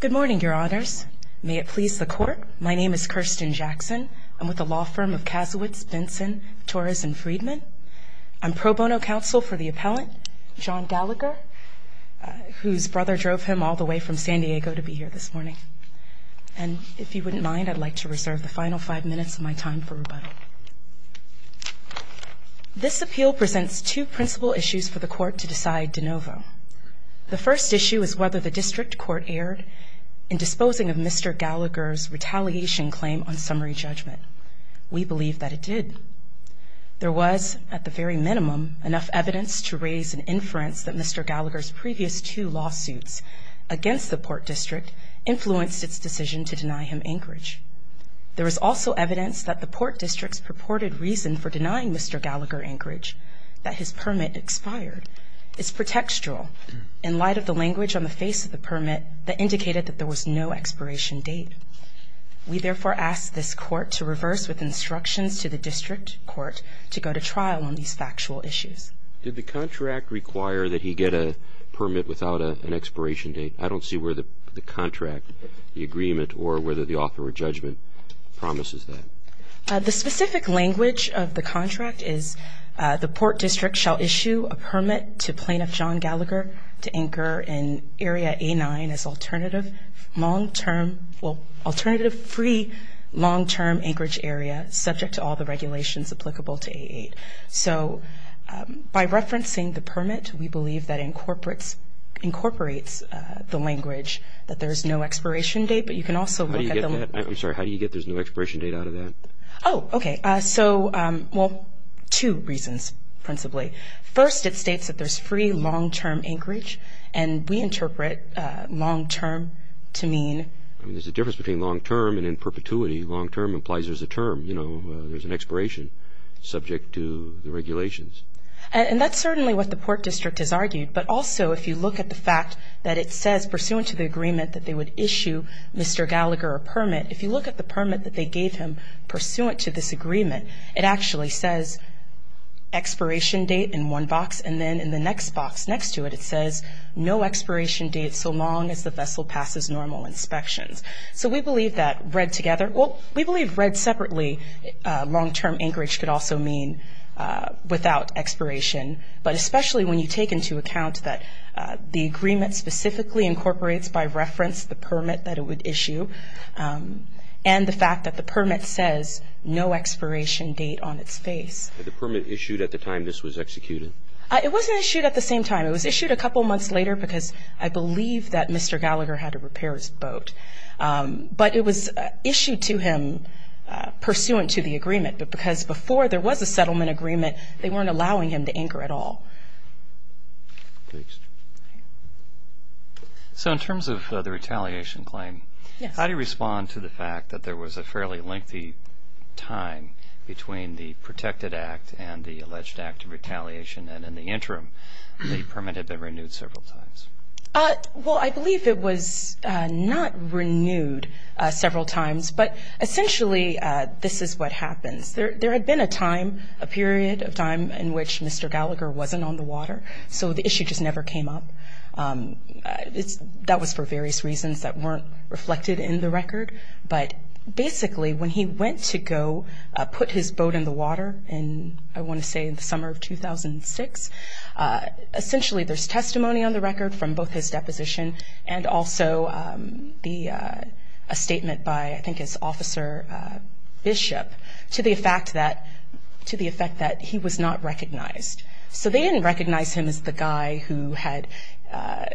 Good morning, your honors. May it please the court. My name is Kirsten Jackson. I'm with the law firm of Kasowitz, Benson, Torres & Friedman. I'm pro bono counsel for the appellant, John Gallagher, whose brother drove him all the way from San Diego to be here this morning. And if you wouldn't mind, I'd like to reserve the final five minutes of my time for rebuttal. This appeal presents two principal issues for the court to decide de novo. The first issue is whether the district court erred in disposing of Mr. Gallagher's retaliation claim on summary judgment. We believe that it did. There was, at the very minimum, enough evidence to raise an inference that Mr. Gallagher's previous two lawsuits against the Port District influenced its decision to deny him Anchorage. There was also evidence that the Port District's purported reason for denying Mr. Gallagher Anchorage that his permit expired. It's pretextual in light of the language on the face of the permit that indicated that there was no expiration date. We therefore ask this court to reverse with instructions to the district court to go to trial on these factual issues. Did the contract require that he get a permit without an expiration date? I don't see where the contract, the agreement, or whether the author or judgment promises that. The specific language of the contract is, the Port District shall issue a permit to Plaintiff John Gallagher to anchor in Area A-9 as alternative long-term, well, alternative free long-term Anchorage area subject to all the regulations applicable to A-8. So, by referencing the permit, we believe that incorporates the language that there is no expiration date, but you can also look at the... How do you get that? I'm sorry, how do you get there's no expiration date out of that? Oh, okay. So, well, two reasons principally. First, it states that there's free long-term Anchorage, and we interpret long-term to mean... I mean, there's a difference between long-term and in perpetuity. Long-term implies there's a term, you know, there's an expiration subject to the regulations. And that's certainly what the Port District has argued, but also if you look at the fact that it says, pursuant to the agreement that they would issue Mr. Gallagher a permit, if you look at the permit that they gave him pursuant to this agreement, it actually says expiration date in one box, and then in the next box next to it, it says no expiration date so long as the vessel passes normal inspections. So we believe that read together... Well, we believe read separately long-term Anchorage could also mean without expiration, but especially when you take into account that the agreement specifically incorporates by reference the permit that it would issue and the fact that the permit says no expiration date on its face. The permit issued at the time this was executed? It wasn't issued at the same time. It was issued a couple months later because I believe that Mr. Gallagher had to repair his boat. But it was issued to him pursuant to the agreement, but because before there was a settlement agreement they weren't allowing him to anchor at all. Thanks. So in terms of the retaliation claim, how do you respond to the fact that there was a fairly lengthy time between the protected act and the alleged act of retaliation, and in the interim the permit had been renewed several times? Well, I believe it was not renewed several times, but essentially this is what happens. There had been a time, a period of time in which Mr. Gallagher wasn't on the water, so the issue just never came up. That was for various reasons that weren't reflected in the record. But basically when he went to go put his boat in the water in, I want to say, the summer of 2006, essentially there's testimony on the record from both his deposition and also a statement by I think his officer Bishop to the effect that he was not recognized. So they didn't recognize him as the guy who had,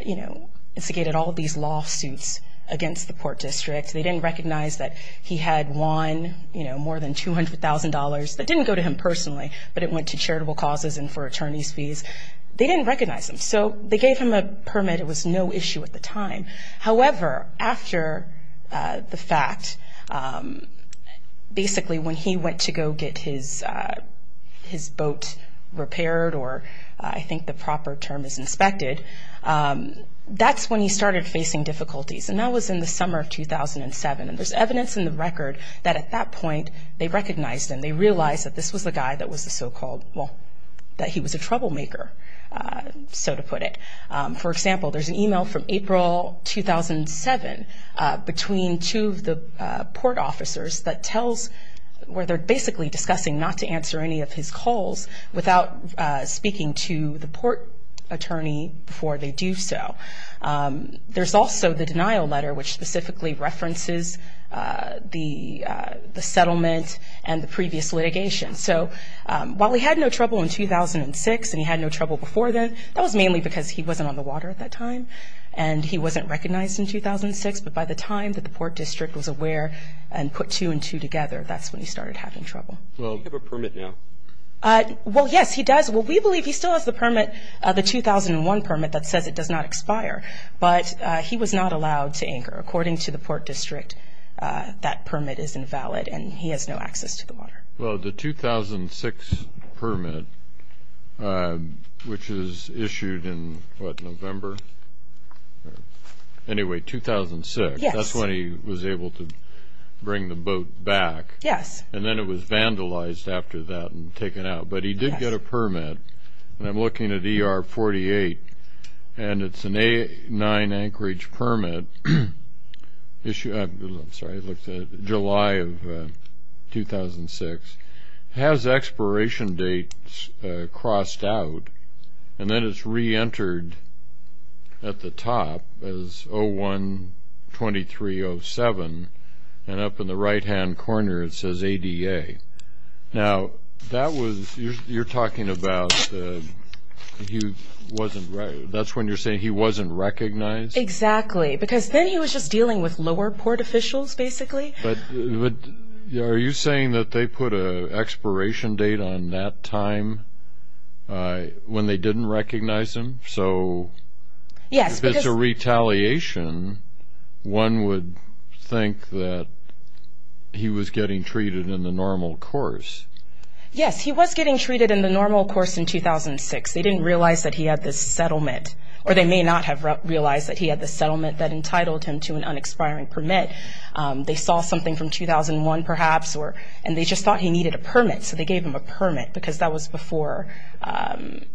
you know, instigated all of these lawsuits against the Port District. They didn't recognize that he had won, you know, more than $200,000. That didn't go to him personally, but it went to charitable causes and for attorney's fees. They didn't recognize him, so they gave him a permit. It was no issue at the time. However, after the fact, basically when he went to go get his boat repaired or I think the proper term is inspected, that's when he started facing difficulties, and that was in the summer of 2007. And there's evidence in the record that at that point they recognized him. They realized that this was the guy that was the so-called, well, that he was a troublemaker, so to put it. For example, there's an email from April 2007 between two of the port officers that tells where they're basically discussing not to answer any of his calls without speaking to the port attorney before they do so. There's also the denial letter, which specifically references the settlement and the previous litigation. So while he had no trouble in 2006 and he had no trouble before then, that was mainly because he wasn't on the water at that time and he wasn't recognized in 2006. But by the time that the Port District was aware and put two and two together, that's when he started having trouble. Does he have a permit now? Well, yes, he does. Well, we believe he still has the permit, the 2001 permit that says it does not expire, but he was not allowed to anchor. According to the Port District, that permit is invalid and he has no access to the water. Well, the 2006 permit, which was issued in, what, November? Anyway, 2006. Yes. That's when he was able to bring the boat back. Yes. And then it was vandalized after that and taken out. But he did get a permit, and I'm looking at ER 48, and it's an A9 anchorage permit, July of 2006. It has expiration dates crossed out, and then it's reentered at the top as 01-2307, and up in the right-hand corner it says ADA. Now, you're talking about that's when you're saying he wasn't recognized? Exactly, because then he was just dealing with lower port officials, basically. But are you saying that they put an expiration date on that time when they didn't recognize him? So if it's a retaliation, one would think that he was getting treated in the normal course. Yes, he was getting treated in the normal course in 2006. They didn't realize that he had this settlement, or they may not have realized that he had this settlement that entitled him to an unexpiring permit. They saw something from 2001, perhaps, and they just thought he needed a permit, so they gave him a permit because that was before he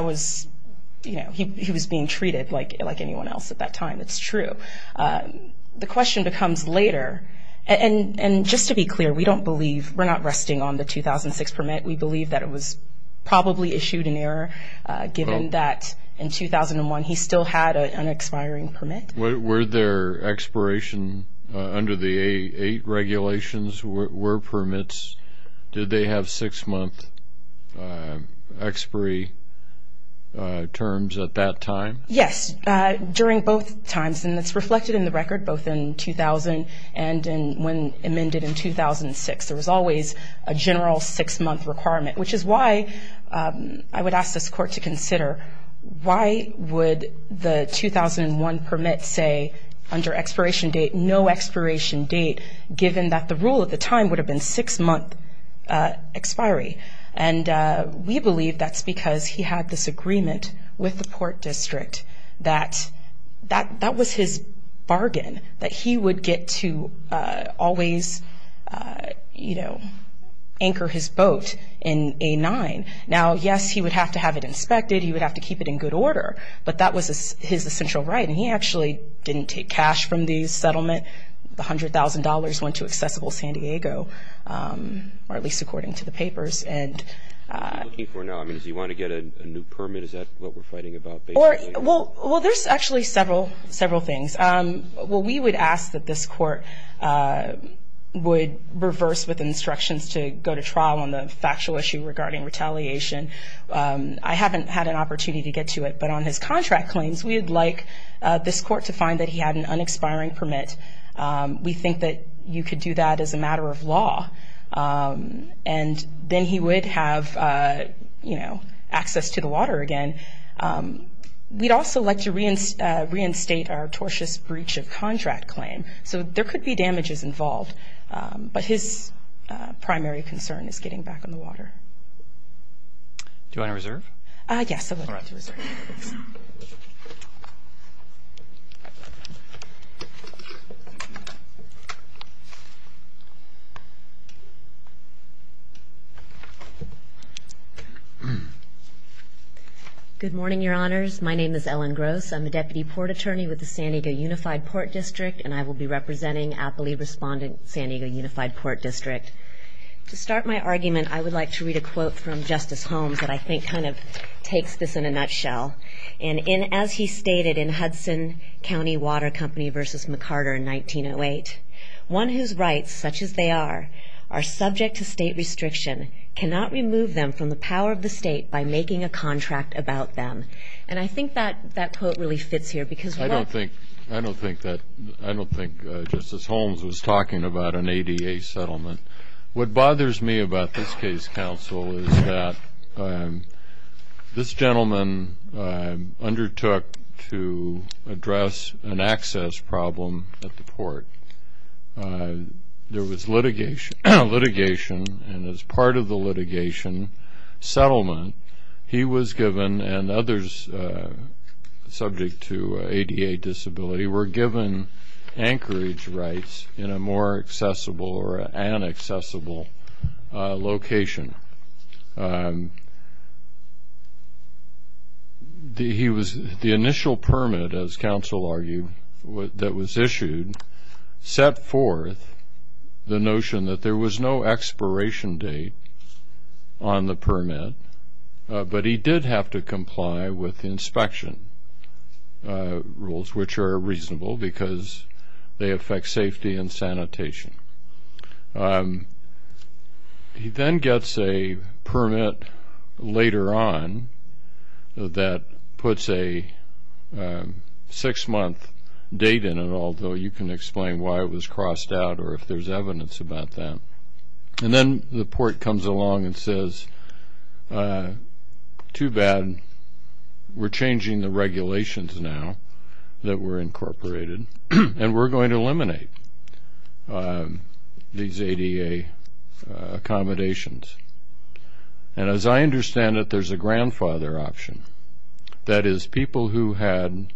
was being treated like anyone else at that time. It's true. The question becomes later, and just to be clear, we don't believe we're not resting on the 2006 permit. We believe that it was probably issued in error, given that in 2001 he still had an expiring permit. Were there expiration under the eight regulations, were permits, did they have six-month expiry terms at that time? Yes, during both times, and it's reflected in the record, both in 2000 and when amended in 2006. There was always a general six-month requirement, which is why I would ask this court to consider why would the 2001 permit say under expiration date no expiration date, given that the rule at the time would have been six-month expiry. And we believe that's because he had this agreement with the court district that that was his bargain, that he would get to always anchor his boat in A-9. Now, yes, he would have to have it inspected, he would have to keep it in good order, but that was his essential right, and he actually didn't take cash from the settlement. The $100,000 went to Accessible San Diego, or at least according to the papers. What are you looking for now? Does he want to get a new permit? Is that what we're fighting about, basically? Well, there's actually several things. We would ask that this court would reverse with instructions to go to trial on the factual issue regarding retaliation. I haven't had an opportunity to get to it, but on his contract claims, we would like this court to find that he had an unexpiring permit. We think that you could do that as a matter of law, and then he would have access to the water again. We'd also like to reinstate our tortious breach of contract claim, so there could be damages involved, but his primary concern is getting back on the water. Do you want to reserve? Yes, I would like to reserve. Good morning, Your Honors. My name is Ellen Gross. I'm a Deputy Port Attorney with the San Diego Unified Port District, and I will be representing aptly respondent San Diego Unified Port District. To start my argument, I would like to read a quote from Justice Holmes that I think kind of takes this in a nutshell. And as he stated in Hudson County Water Company v. McCarter in 1908, one whose rights, such as they are, are subject to state restriction, cannot remove them from the power of the state by making a contract about them. And I think that that quote really fits here. I don't think Justice Holmes was talking about an ADA settlement. What bothers me about this case, counsel, is that this gentleman undertook to address an access problem at the port. There was litigation, and as part of the litigation settlement, he was given and others subject to ADA disability were given anchorage rights in a more accessible or inaccessible location. The initial permit, as counsel argued, that was issued set forth the notion that there was no expiration date on the permit, but he did have to comply with inspection rules, which are reasonable because they affect safety and sanitation. He then gets a permit later on that puts a six-month date in it, although you can explain why it was crossed out or if there's evidence about that. And then the port comes along and says, too bad, we're changing the regulations now that were incorporated, and we're going to eliminate these ADA accommodations. And as I understand it, there's a grandfather option, that is people who had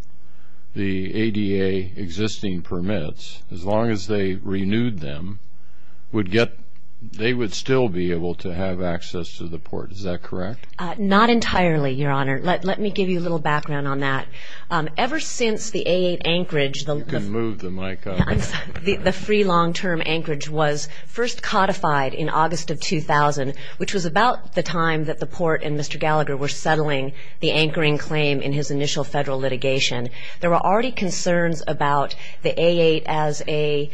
the ADA existing permits, as long as they renewed them, they would still be able to have access to the port. Is that correct? Not entirely, Your Honor. Let me give you a little background on that. Ever since the A8 anchorage, the free long-term anchorage was first codified in August of 2000, which was about the time that the port and Mr. Gallagher were settling the anchoring claim in his initial federal litigation. There were already concerns about the A8 as a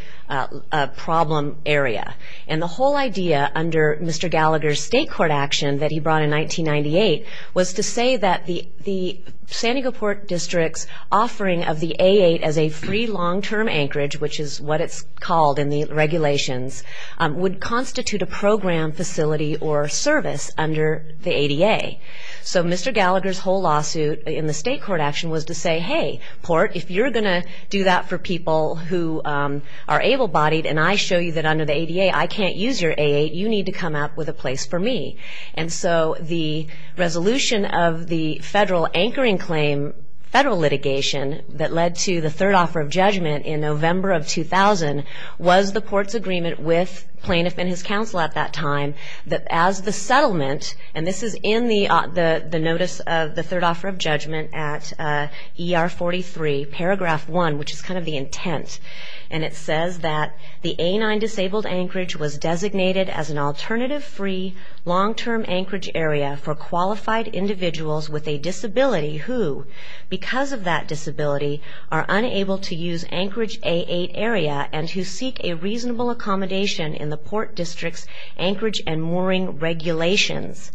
problem area. And the whole idea under Mr. Gallagher's state court action that he brought in 1998 was to say that the San Diego Port District's offering of the A8 as a free long-term anchorage, which is what it's called in the regulations, would constitute a program facility or service under the ADA. So Mr. Gallagher's whole lawsuit in the state court action was to say, hey, port, if you're going to do that for people who are able-bodied, and I show you that under the ADA I can't use your A8, you need to come up with a place for me. And so the resolution of the federal anchoring claim, federal litigation, that led to the third offer of judgment in November of 2000, was the port's agreement with plaintiff and his counsel at that time, that as the settlement, and this is in the notice of the third offer of judgment at ER 43, paragraph 1, which is kind of the intent, and it says that the A9 disabled anchorage was designated as an alternative free long-term anchorage area for qualified individuals with a disability who, because of that disability, are unable to use anchorage A8 area and who seek a reasonable accommodation in the port district's anchorage and mooring regulations.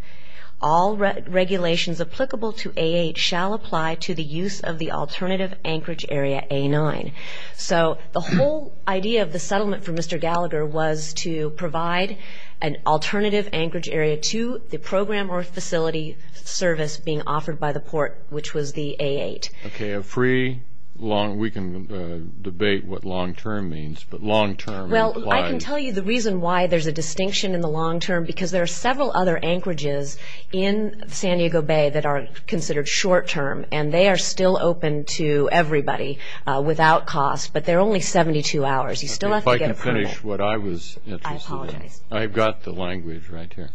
All regulations applicable to A8 shall apply to the use of the alternative anchorage area A9. So the whole idea of the settlement for Mr. Gallagher was to provide an alternative anchorage area to the program or facility service being offered by the port, which was the A8. Okay, a free long – we can debate what long-term means, but long-term implies – Well, I can tell you the reason why there's a distinction in the long-term, because there are several other anchorages in San Diego Bay that are considered short-term, and they are still open to everybody without cost, but they're only 72 hours. You still have to get approval. Okay, if I can finish what I was interested in. I apologize. I've got the language right here.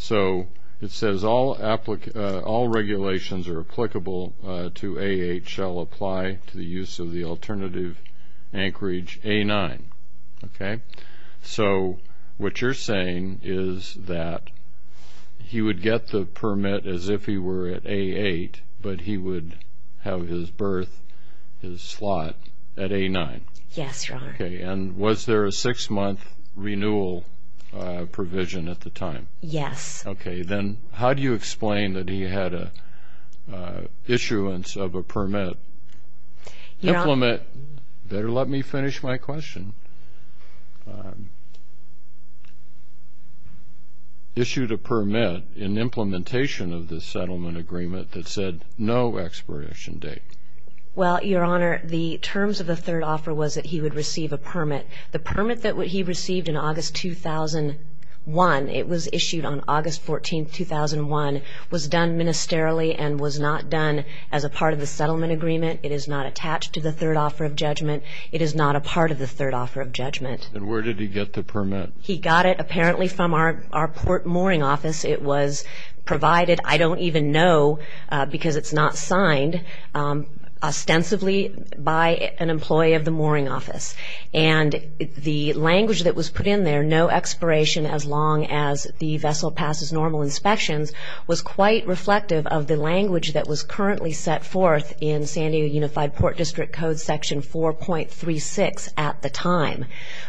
So it says all regulations are applicable to A8 shall apply to the use of the alternative anchorage A9. So what you're saying is that he would get the permit as if he were at A8, but he would have his berth, his slot, at A9. Yes, Your Honor. Okay, and was there a six-month renewal provision at the time? Yes. Okay, then how do you explain that he had an issuance of a permit? Better let me finish my question. Issued a permit in implementation of the settlement agreement that said no expiration date. Well, Your Honor, the terms of the third offer was that he would receive a permit. The permit that he received in August 2001, it was issued on August 14, 2001, was done ministerially and was not done as a part of the settlement agreement. It is not attached to the third offer of judgment. It is not a part of the third offer of judgment. And where did he get the permit? He got it apparently from our port mooring office. It was provided, I don't even know because it's not signed, ostensibly by an employee of the mooring office. And the language that was put in there, no expiration as long as the vessel passes normal inspections, was quite reflective of the language that was currently set forth in San Diego Unified Port District Code Section 4.36 at the time,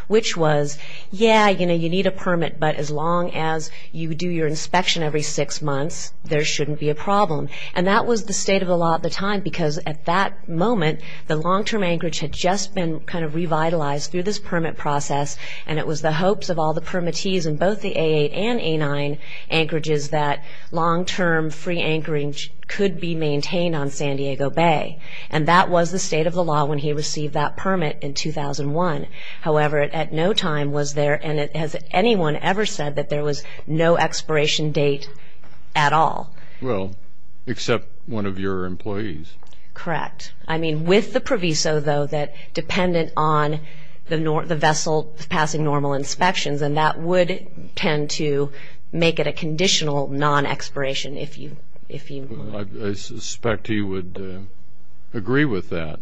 which was, yeah, you know, you need a permit, but as long as you do your inspection every six months, there shouldn't be a problem. And that was the state of the law at the time because at that moment, the long-term anchorage had just been kind of revitalized through this permit process, and it was the hopes of all the permittees in both the A8 and A9 anchorages that long-term free anchoring could be maintained on San Diego Bay. And that was the state of the law when he received that permit in 2001. However, it at no time was there, and has anyone ever said that there was no expiration date at all? Well, except one of your employees. Correct. I mean, with the proviso, though, that dependent on the vessel passing normal inspections, and that would tend to make it a conditional non-expiration if you would. I suspect he would agree with that.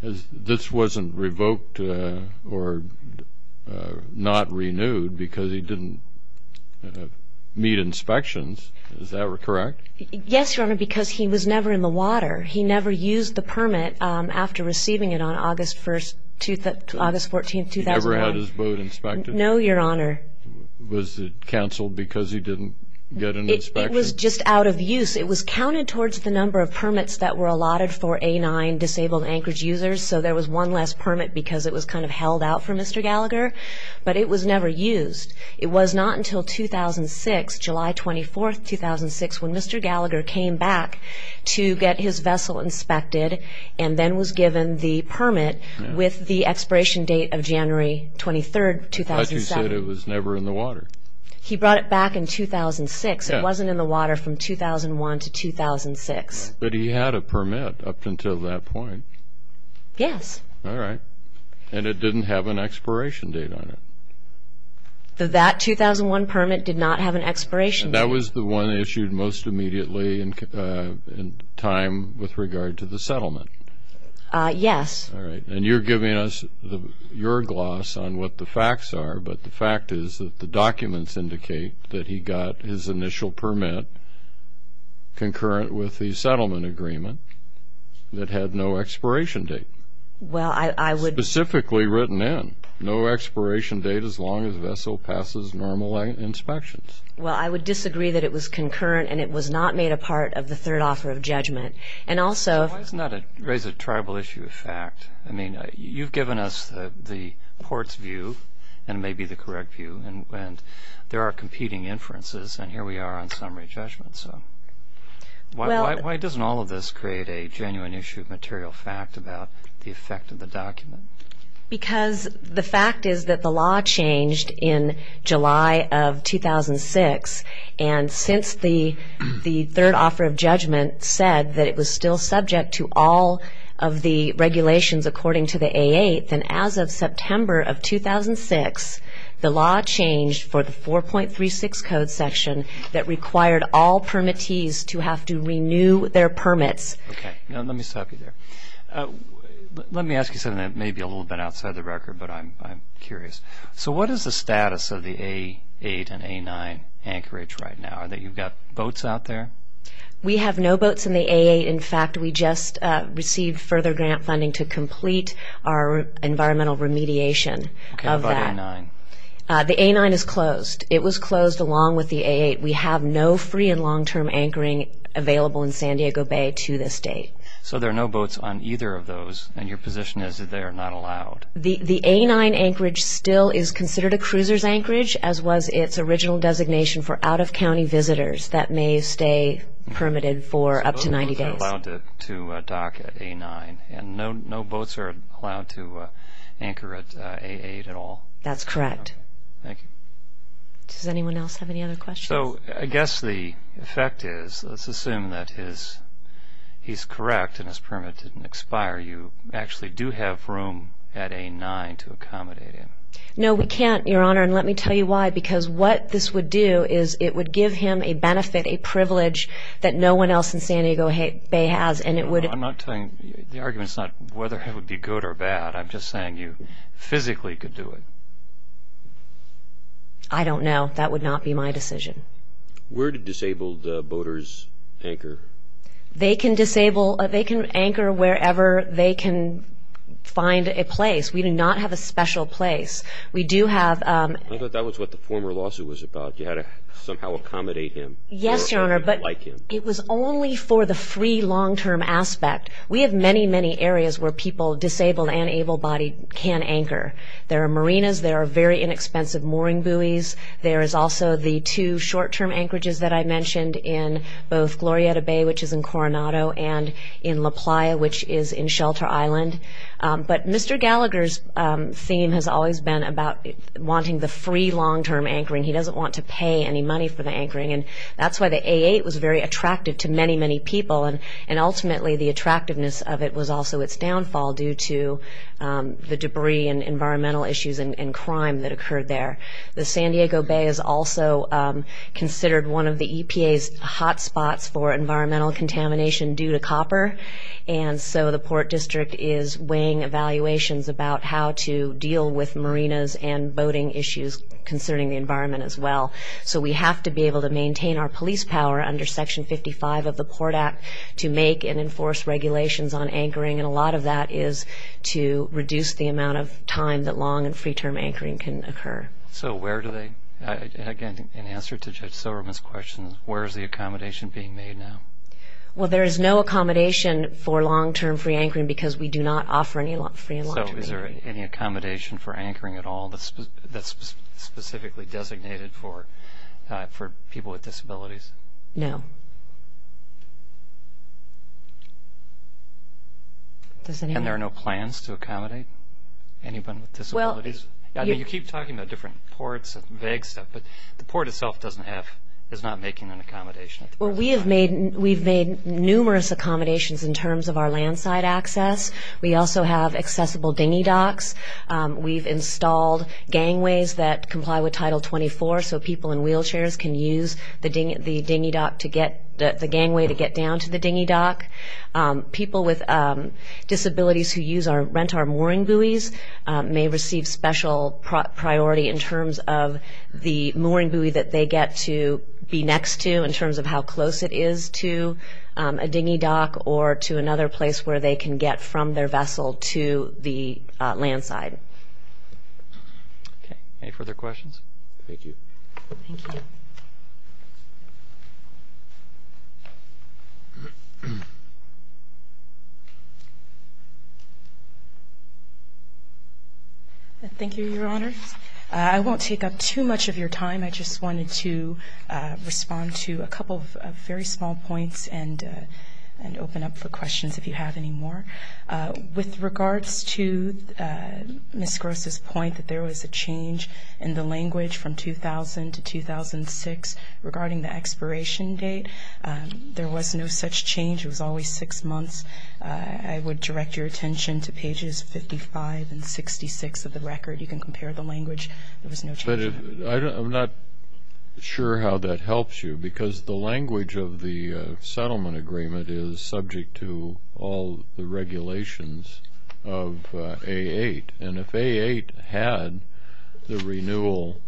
This wasn't revoked or not renewed because he didn't meet inspections. Is that correct? Yes, Your Honor, because he was never in the water. He never used the permit after receiving it on August 14, 2001. He never had his boat inspected? No, Your Honor. Was it canceled because he didn't get an inspection? It was just out of use. It was counted towards the number of permits that were allotted for A9 disabled anchorage users, so there was one less permit because it was kind of held out for Mr. Gallagher, but it was never used. It was not until 2006, July 24, 2006, when Mr. Gallagher came back to get his vessel inspected and then was given the permit with the expiration date of January 23, 2007. But you said it was never in the water. He brought it back in 2006. It wasn't in the water from 2001 to 2006. But he had a permit up until that point. Yes. All right. And it didn't have an expiration date on it? That 2001 permit did not have an expiration date. That was the one issued most immediately in time with regard to the settlement? Yes. All right. And you're giving us your gloss on what the facts are, but the fact is that the documents indicate that he got his initial permit concurrent with the settlement agreement that had no expiration date. Well, I would ---- Specifically written in. No expiration date as long as the vessel passes normal inspections. Well, I would disagree that it was concurrent and it was not made a part of the third offer of judgment. And also ---- Why doesn't that raise a tribal issue of fact? I mean, you've given us the port's view and maybe the correct view, and there are competing inferences, and here we are on summary judgment. Why doesn't all of this create a genuine issue of material fact about the effect of the document? Because the fact is that the law changed in July of 2006, and since the third offer of judgment said that it was still subject to all of the regulations according to the A8, then as of September of 2006, the law changed for the 4.36 code section that required all permittees to have to renew their permits. Okay. Let me stop you there. Let me ask you something that may be a little bit outside the record, but I'm curious. So what is the status of the A8 and A9 anchorage right now? You've got boats out there? We have no boats in the A8. In fact, we just received further grant funding to complete our environmental remediation of that. Okay. What about A9? The A9 is closed. It was closed along with the A8. We have no free and long-term anchoring available in San Diego Bay to this date. So there are no boats on either of those, and your position is that they are not allowed? The A9 anchorage still is considered a cruiser's anchorage, as was its original designation for out-of-county visitors that may stay permitted for up to 90 days. So no boats are allowed to dock at A9, and no boats are allowed to anchor at A8 at all? That's correct. Thank you. Does anyone else have any other questions? So I guess the effect is let's assume that he's correct and his permit didn't expire. You actually do have room at A9 to accommodate him. No, we can't, Your Honor, and let me tell you why, because what this would do is it would give him a benefit, a privilege, that no one else in San Diego Bay has. No, I'm not telling you. The argument is not whether it would be good or bad. I'm just saying you physically could do it. I don't know. That would not be my decision. Where do disabled boaters anchor? They can anchor wherever they can find a place. We do not have a special place. I thought that was what the former lawsuit was about. You had to somehow accommodate him. Yes, Your Honor, but it was only for the free, long-term aspect. We have many, many areas where people, disabled and able-bodied, can anchor. There are marinas. There are very inexpensive mooring buoys. There is also the two short-term anchorages that I mentioned in both Glorieta Bay, which is in Coronado, and in La Playa, which is in Shelter Island. But Mr. Gallagher's theme has always been about wanting the free, long-term anchoring. He doesn't want to pay any money for the anchoring, and that's why the A8 was very attractive to many, many people, and ultimately the attractiveness of it was also its downfall due to the debris and environmental issues and crime that occurred there. The San Diego Bay is also considered one of the EPA's hotspots for environmental contamination due to copper, and so the Port District is weighing evaluations about how to deal with marinas and boating issues concerning the environment as well. So we have to be able to maintain our police power under Section 55 of the Port Act to make and enforce regulations on anchoring, and a lot of that is to reduce the amount of time that long- and free-term anchoring can occur. So where do they, again, in answer to Judge Silverman's question, where is the accommodation being made now? Well, there is no accommodation for long-term free anchoring because we do not offer any free and long-term anchoring. So is there any accommodation for anchoring at all that's specifically designated for people with disabilities? No. And there are no plans to accommodate anyone with disabilities? I mean, you keep talking about different ports and vague stuff, but the port itself is not making an accommodation at the present time. Well, we've made numerous accommodations in terms of our landside access. We also have accessible dinghy docks. We've installed gangways that comply with Title 24 so people in wheelchairs can use the gangway to get down to the dinghy dock. People with disabilities who rent our mooring buoys may receive special priority in terms of the mooring buoy that they get to be next to in terms of how close it is to a dinghy dock or to another place where they can get from their vessel to the landside. Okay. Any further questions? Thank you. Thank you. Thank you, Your Honor. I won't take up too much of your time. I just wanted to respond to a couple of very small points and open up for questions if you have any more. With regards to Ms. Gross' point that there was a change in the language from 2000 to 2006 regarding the expiration date, there was no such change. It was always six months. I would direct your attention to pages 55 and 66 of the record. You can compare the language. I'm not sure how that helps you because the language of the settlement agreement is subject to all the regulations of A-8. And if A-8 had the renewal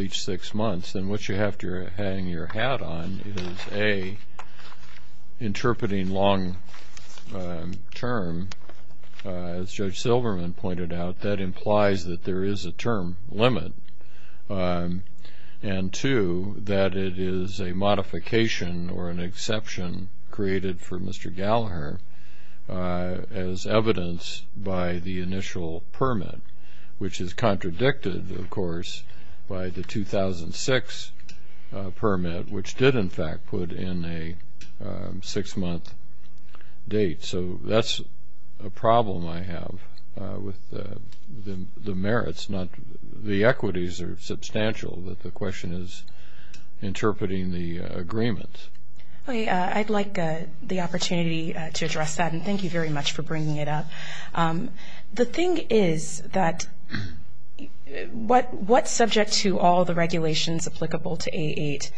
each six months, then what you have to hang your hat on is, A, interpreting long-term, as Judge Silverman pointed out, that implies that there is a term limit, and, two, that it is a modification or an exception created for Mr. Gallagher as evidenced by the initial permit, which is contradicted, of course, by the 2006 permit, which did, in fact, put in a six-month date. So that's a problem I have with the merits. The equities are substantial that the question is interpreting the agreement. I'd like the opportunity to address that, and thank you very much for bringing it up. The thing is that what's subject to all the regulations applicable to A-8,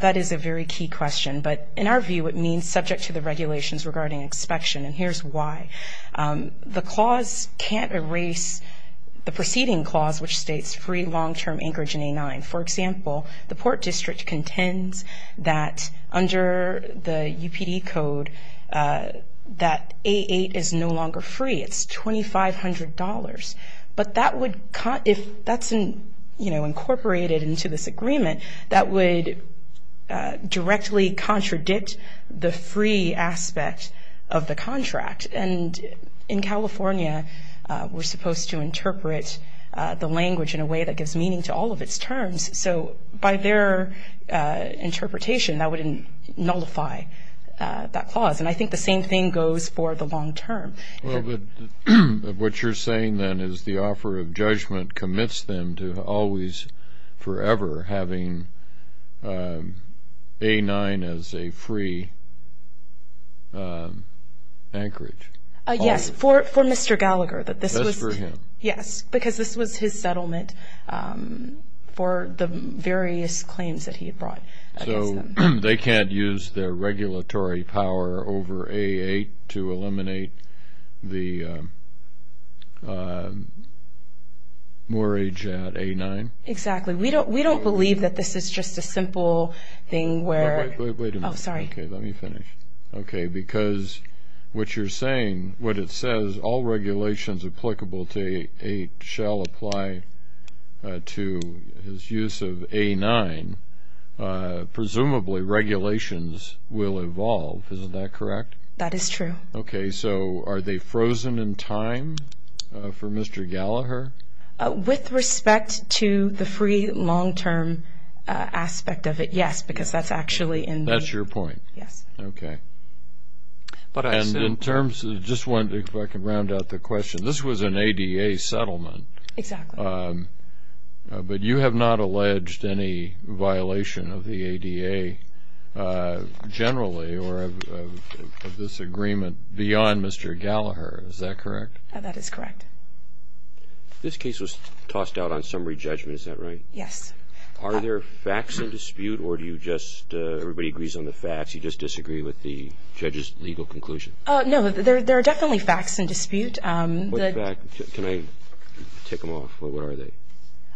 that is a very key question. But in our view, it means subject to the regulations regarding inspection, and here's why. The clause can't erase the preceding clause, which states free long-term anchorage in A-9. For example, the Port District contends that under the UPD code that A-8 is no longer free. It's $2,500. But if that's incorporated into this agreement, that would directly contradict the free aspect of the contract. And in California, we're supposed to interpret the language in a way that gives meaning to all of its terms. So by their interpretation, that would nullify that clause. And I think the same thing goes for the long term. Well, but what you're saying then is the offer of judgment commits them to always forever having A-9 as a free anchorage. Yes, for Mr. Gallagher. Just for him. Yes, because this was his settlement for the various claims that he had brought against them. They can't use their regulatory power over A-8 to eliminate the moorage at A-9? Exactly. We don't believe that this is just a simple thing where... Wait a minute. Oh, sorry. Okay, let me finish. Okay, because what you're saying, what it says, all regulations applicable to A-8 shall apply to his use of A-9. Presumably, regulations will evolve. Isn't that correct? That is true. Okay, so are they frozen in time for Mr. Gallagher? With respect to the free long term aspect of it, yes, because that's actually in the... That's your point? Yes. Okay. But I said... And in terms of... just wanted to round out the question. This was an ADA settlement. Exactly. But you have not alleged any violation of the ADA generally or of this agreement beyond Mr. Gallagher. Is that correct? That is correct. This case was tossed out on summary judgment, is that right? Yes. Are there facts in dispute or do you just... everybody agrees on the facts, you just disagree with the judge's legal conclusion? No, there are definitely facts in dispute. Can I take them off? What are they?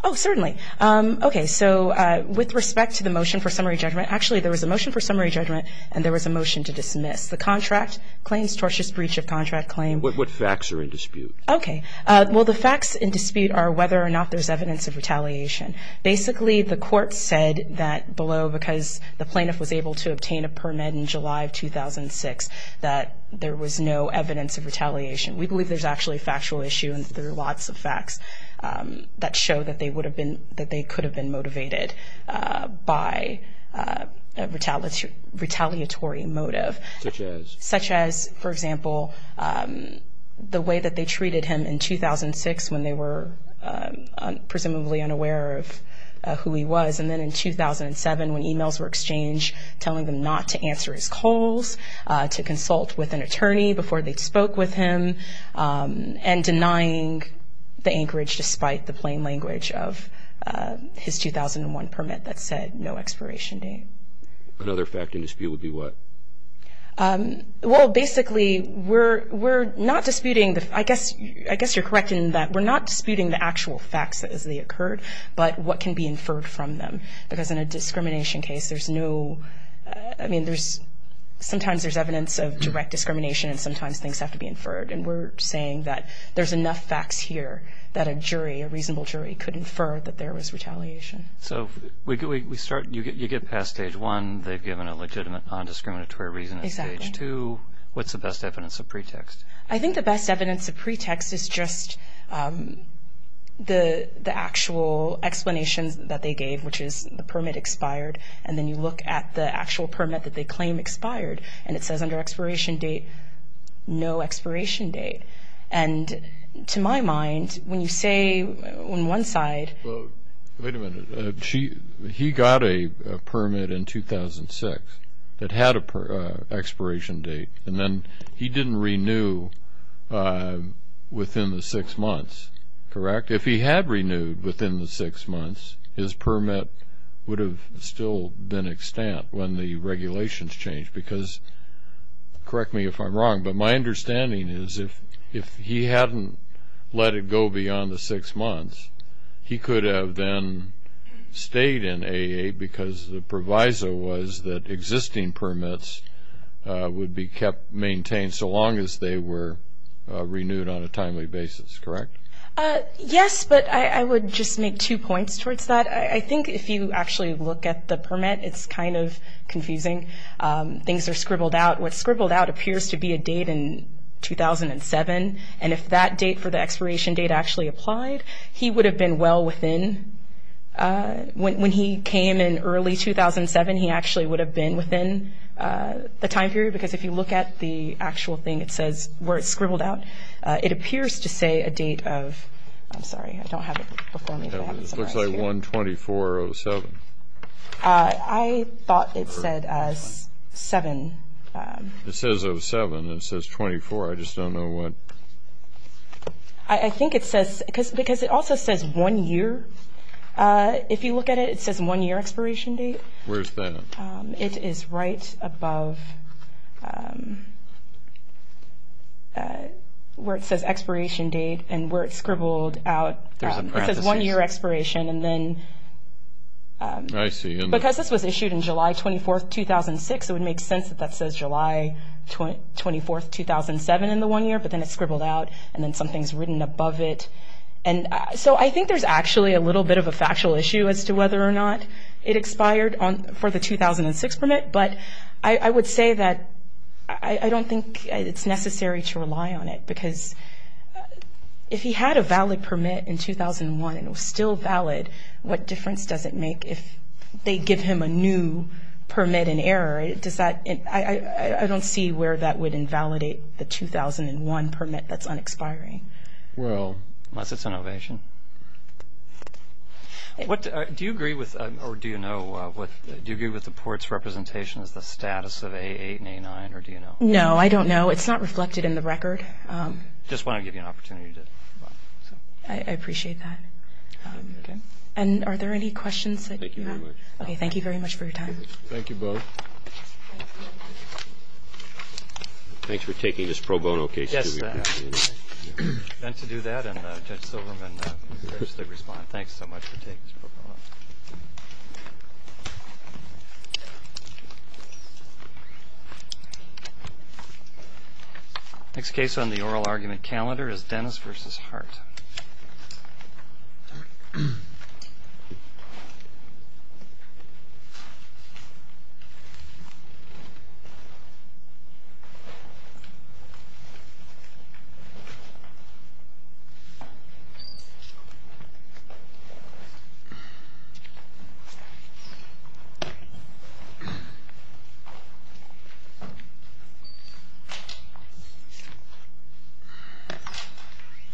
Oh, certainly. Okay, so with respect to the motion for summary judgment, actually there was a motion for summary judgment and there was a motion to dismiss. The contract claims tortious breach of contract claim. What facts are in dispute? Okay. Well, the facts in dispute are whether or not there's evidence of retaliation. Basically, the court said that below, because the plaintiff was able to obtain a permit in July of 2006, that there was no evidence of retaliation. We believe there's actually a factual issue and there are lots of facts that show that they would have been, that they could have been motivated by a retaliatory motive. Such as? Such as, for example, the way that they treated him in 2006 when they were presumably unaware of who he was, and then in 2007 when emails were exchanged telling them not to answer his calls, to consult with an attorney before they spoke with him, and denying the anchorage despite the plain language of his 2001 permit that said no expiration date. Another fact in dispute would be what? Well, basically, we're not disputing, I guess you're correct in that we're not disputing the actual facts as they occurred, but what can be inferred from them. Because in a discrimination case, there's no, I mean, there's, sometimes there's evidence of direct discrimination and sometimes things have to be inferred. And we're saying that there's enough facts here that a jury, a reasonable jury, could infer that there was retaliation. So we start, you get past stage one, they've given a legitimate non-discriminatory reason at stage two. Exactly. What's the best evidence of pretext? I think the best evidence of pretext is just the actual explanations that they gave, which is the permit expired, and then you look at the actual permit that they claim expired, and it says under expiration date, no expiration date. And to my mind, when you say on one side. Wait a minute. He got a permit in 2006 that had an expiration date, and then he didn't renew within the six months, correct? If he had renewed within the six months, his permit would have still been extant when the regulations changed, because, correct me if I'm wrong, but my understanding is if he hadn't let it go beyond the six months, he could have then stayed in AA because the proviso was that existing permits would be kept, maintained so long as they were renewed on a timely basis, correct? Yes, but I would just make two points towards that. I think if you actually look at the permit, it's kind of confusing. Things are scribbled out. What's scribbled out appears to be a date in 2007, and if that date for the expiration date actually applied, he would have been well within. When he came in early 2007, he actually would have been within the time period, because if you look at the actual thing where it's scribbled out, it appears to say a date of, I'm sorry, I don't have it before me. It looks like 12407. I thought it said 7. It says 07. It says 24. I just don't know what. I think it says, because it also says one year. If you look at it, it says one year expiration date. Where is that? It is right above where it says expiration date and where it's scribbled out. It says one year expiration, and then because this was issued in July 24, 2006, it would make sense that that says July 24, 2007 in the one year, but then it's scribbled out, and then something's written above it. And so I think there's actually a little bit of a factual issue as to whether or not it expired for the 2006 permit, but I would say that I don't think it's necessary to rely on it, because if he had a valid permit in 2001 and it was still valid, what difference does it make if they give him a new permit in error? I don't see where that would invalidate the 2001 permit that's unexpiring. Well, unless it's an ovation. Do you agree with the port's representation as the status of A8 and A9, or do you know? No, I don't know. It's not reflected in the record. I just want to give you an opportunity. I appreciate that. And are there any questions that you have? Thank you very much. Okay, thank you very much for your time. Thank you, both. Thanks for taking this pro bono case. Yes. And to do that, and Judge Silverman, thanks so much for taking this pro bono. Next case on the oral argument calendar is Dennis v. Hart.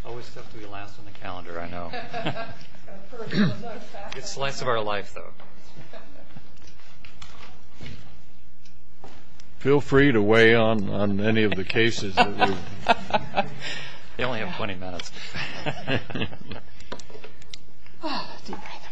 Always tough to be last on the calendar, I know. It's the slice of our life, though. Feel free to weigh on any of the cases. They only have 20 minutes. Deep breath.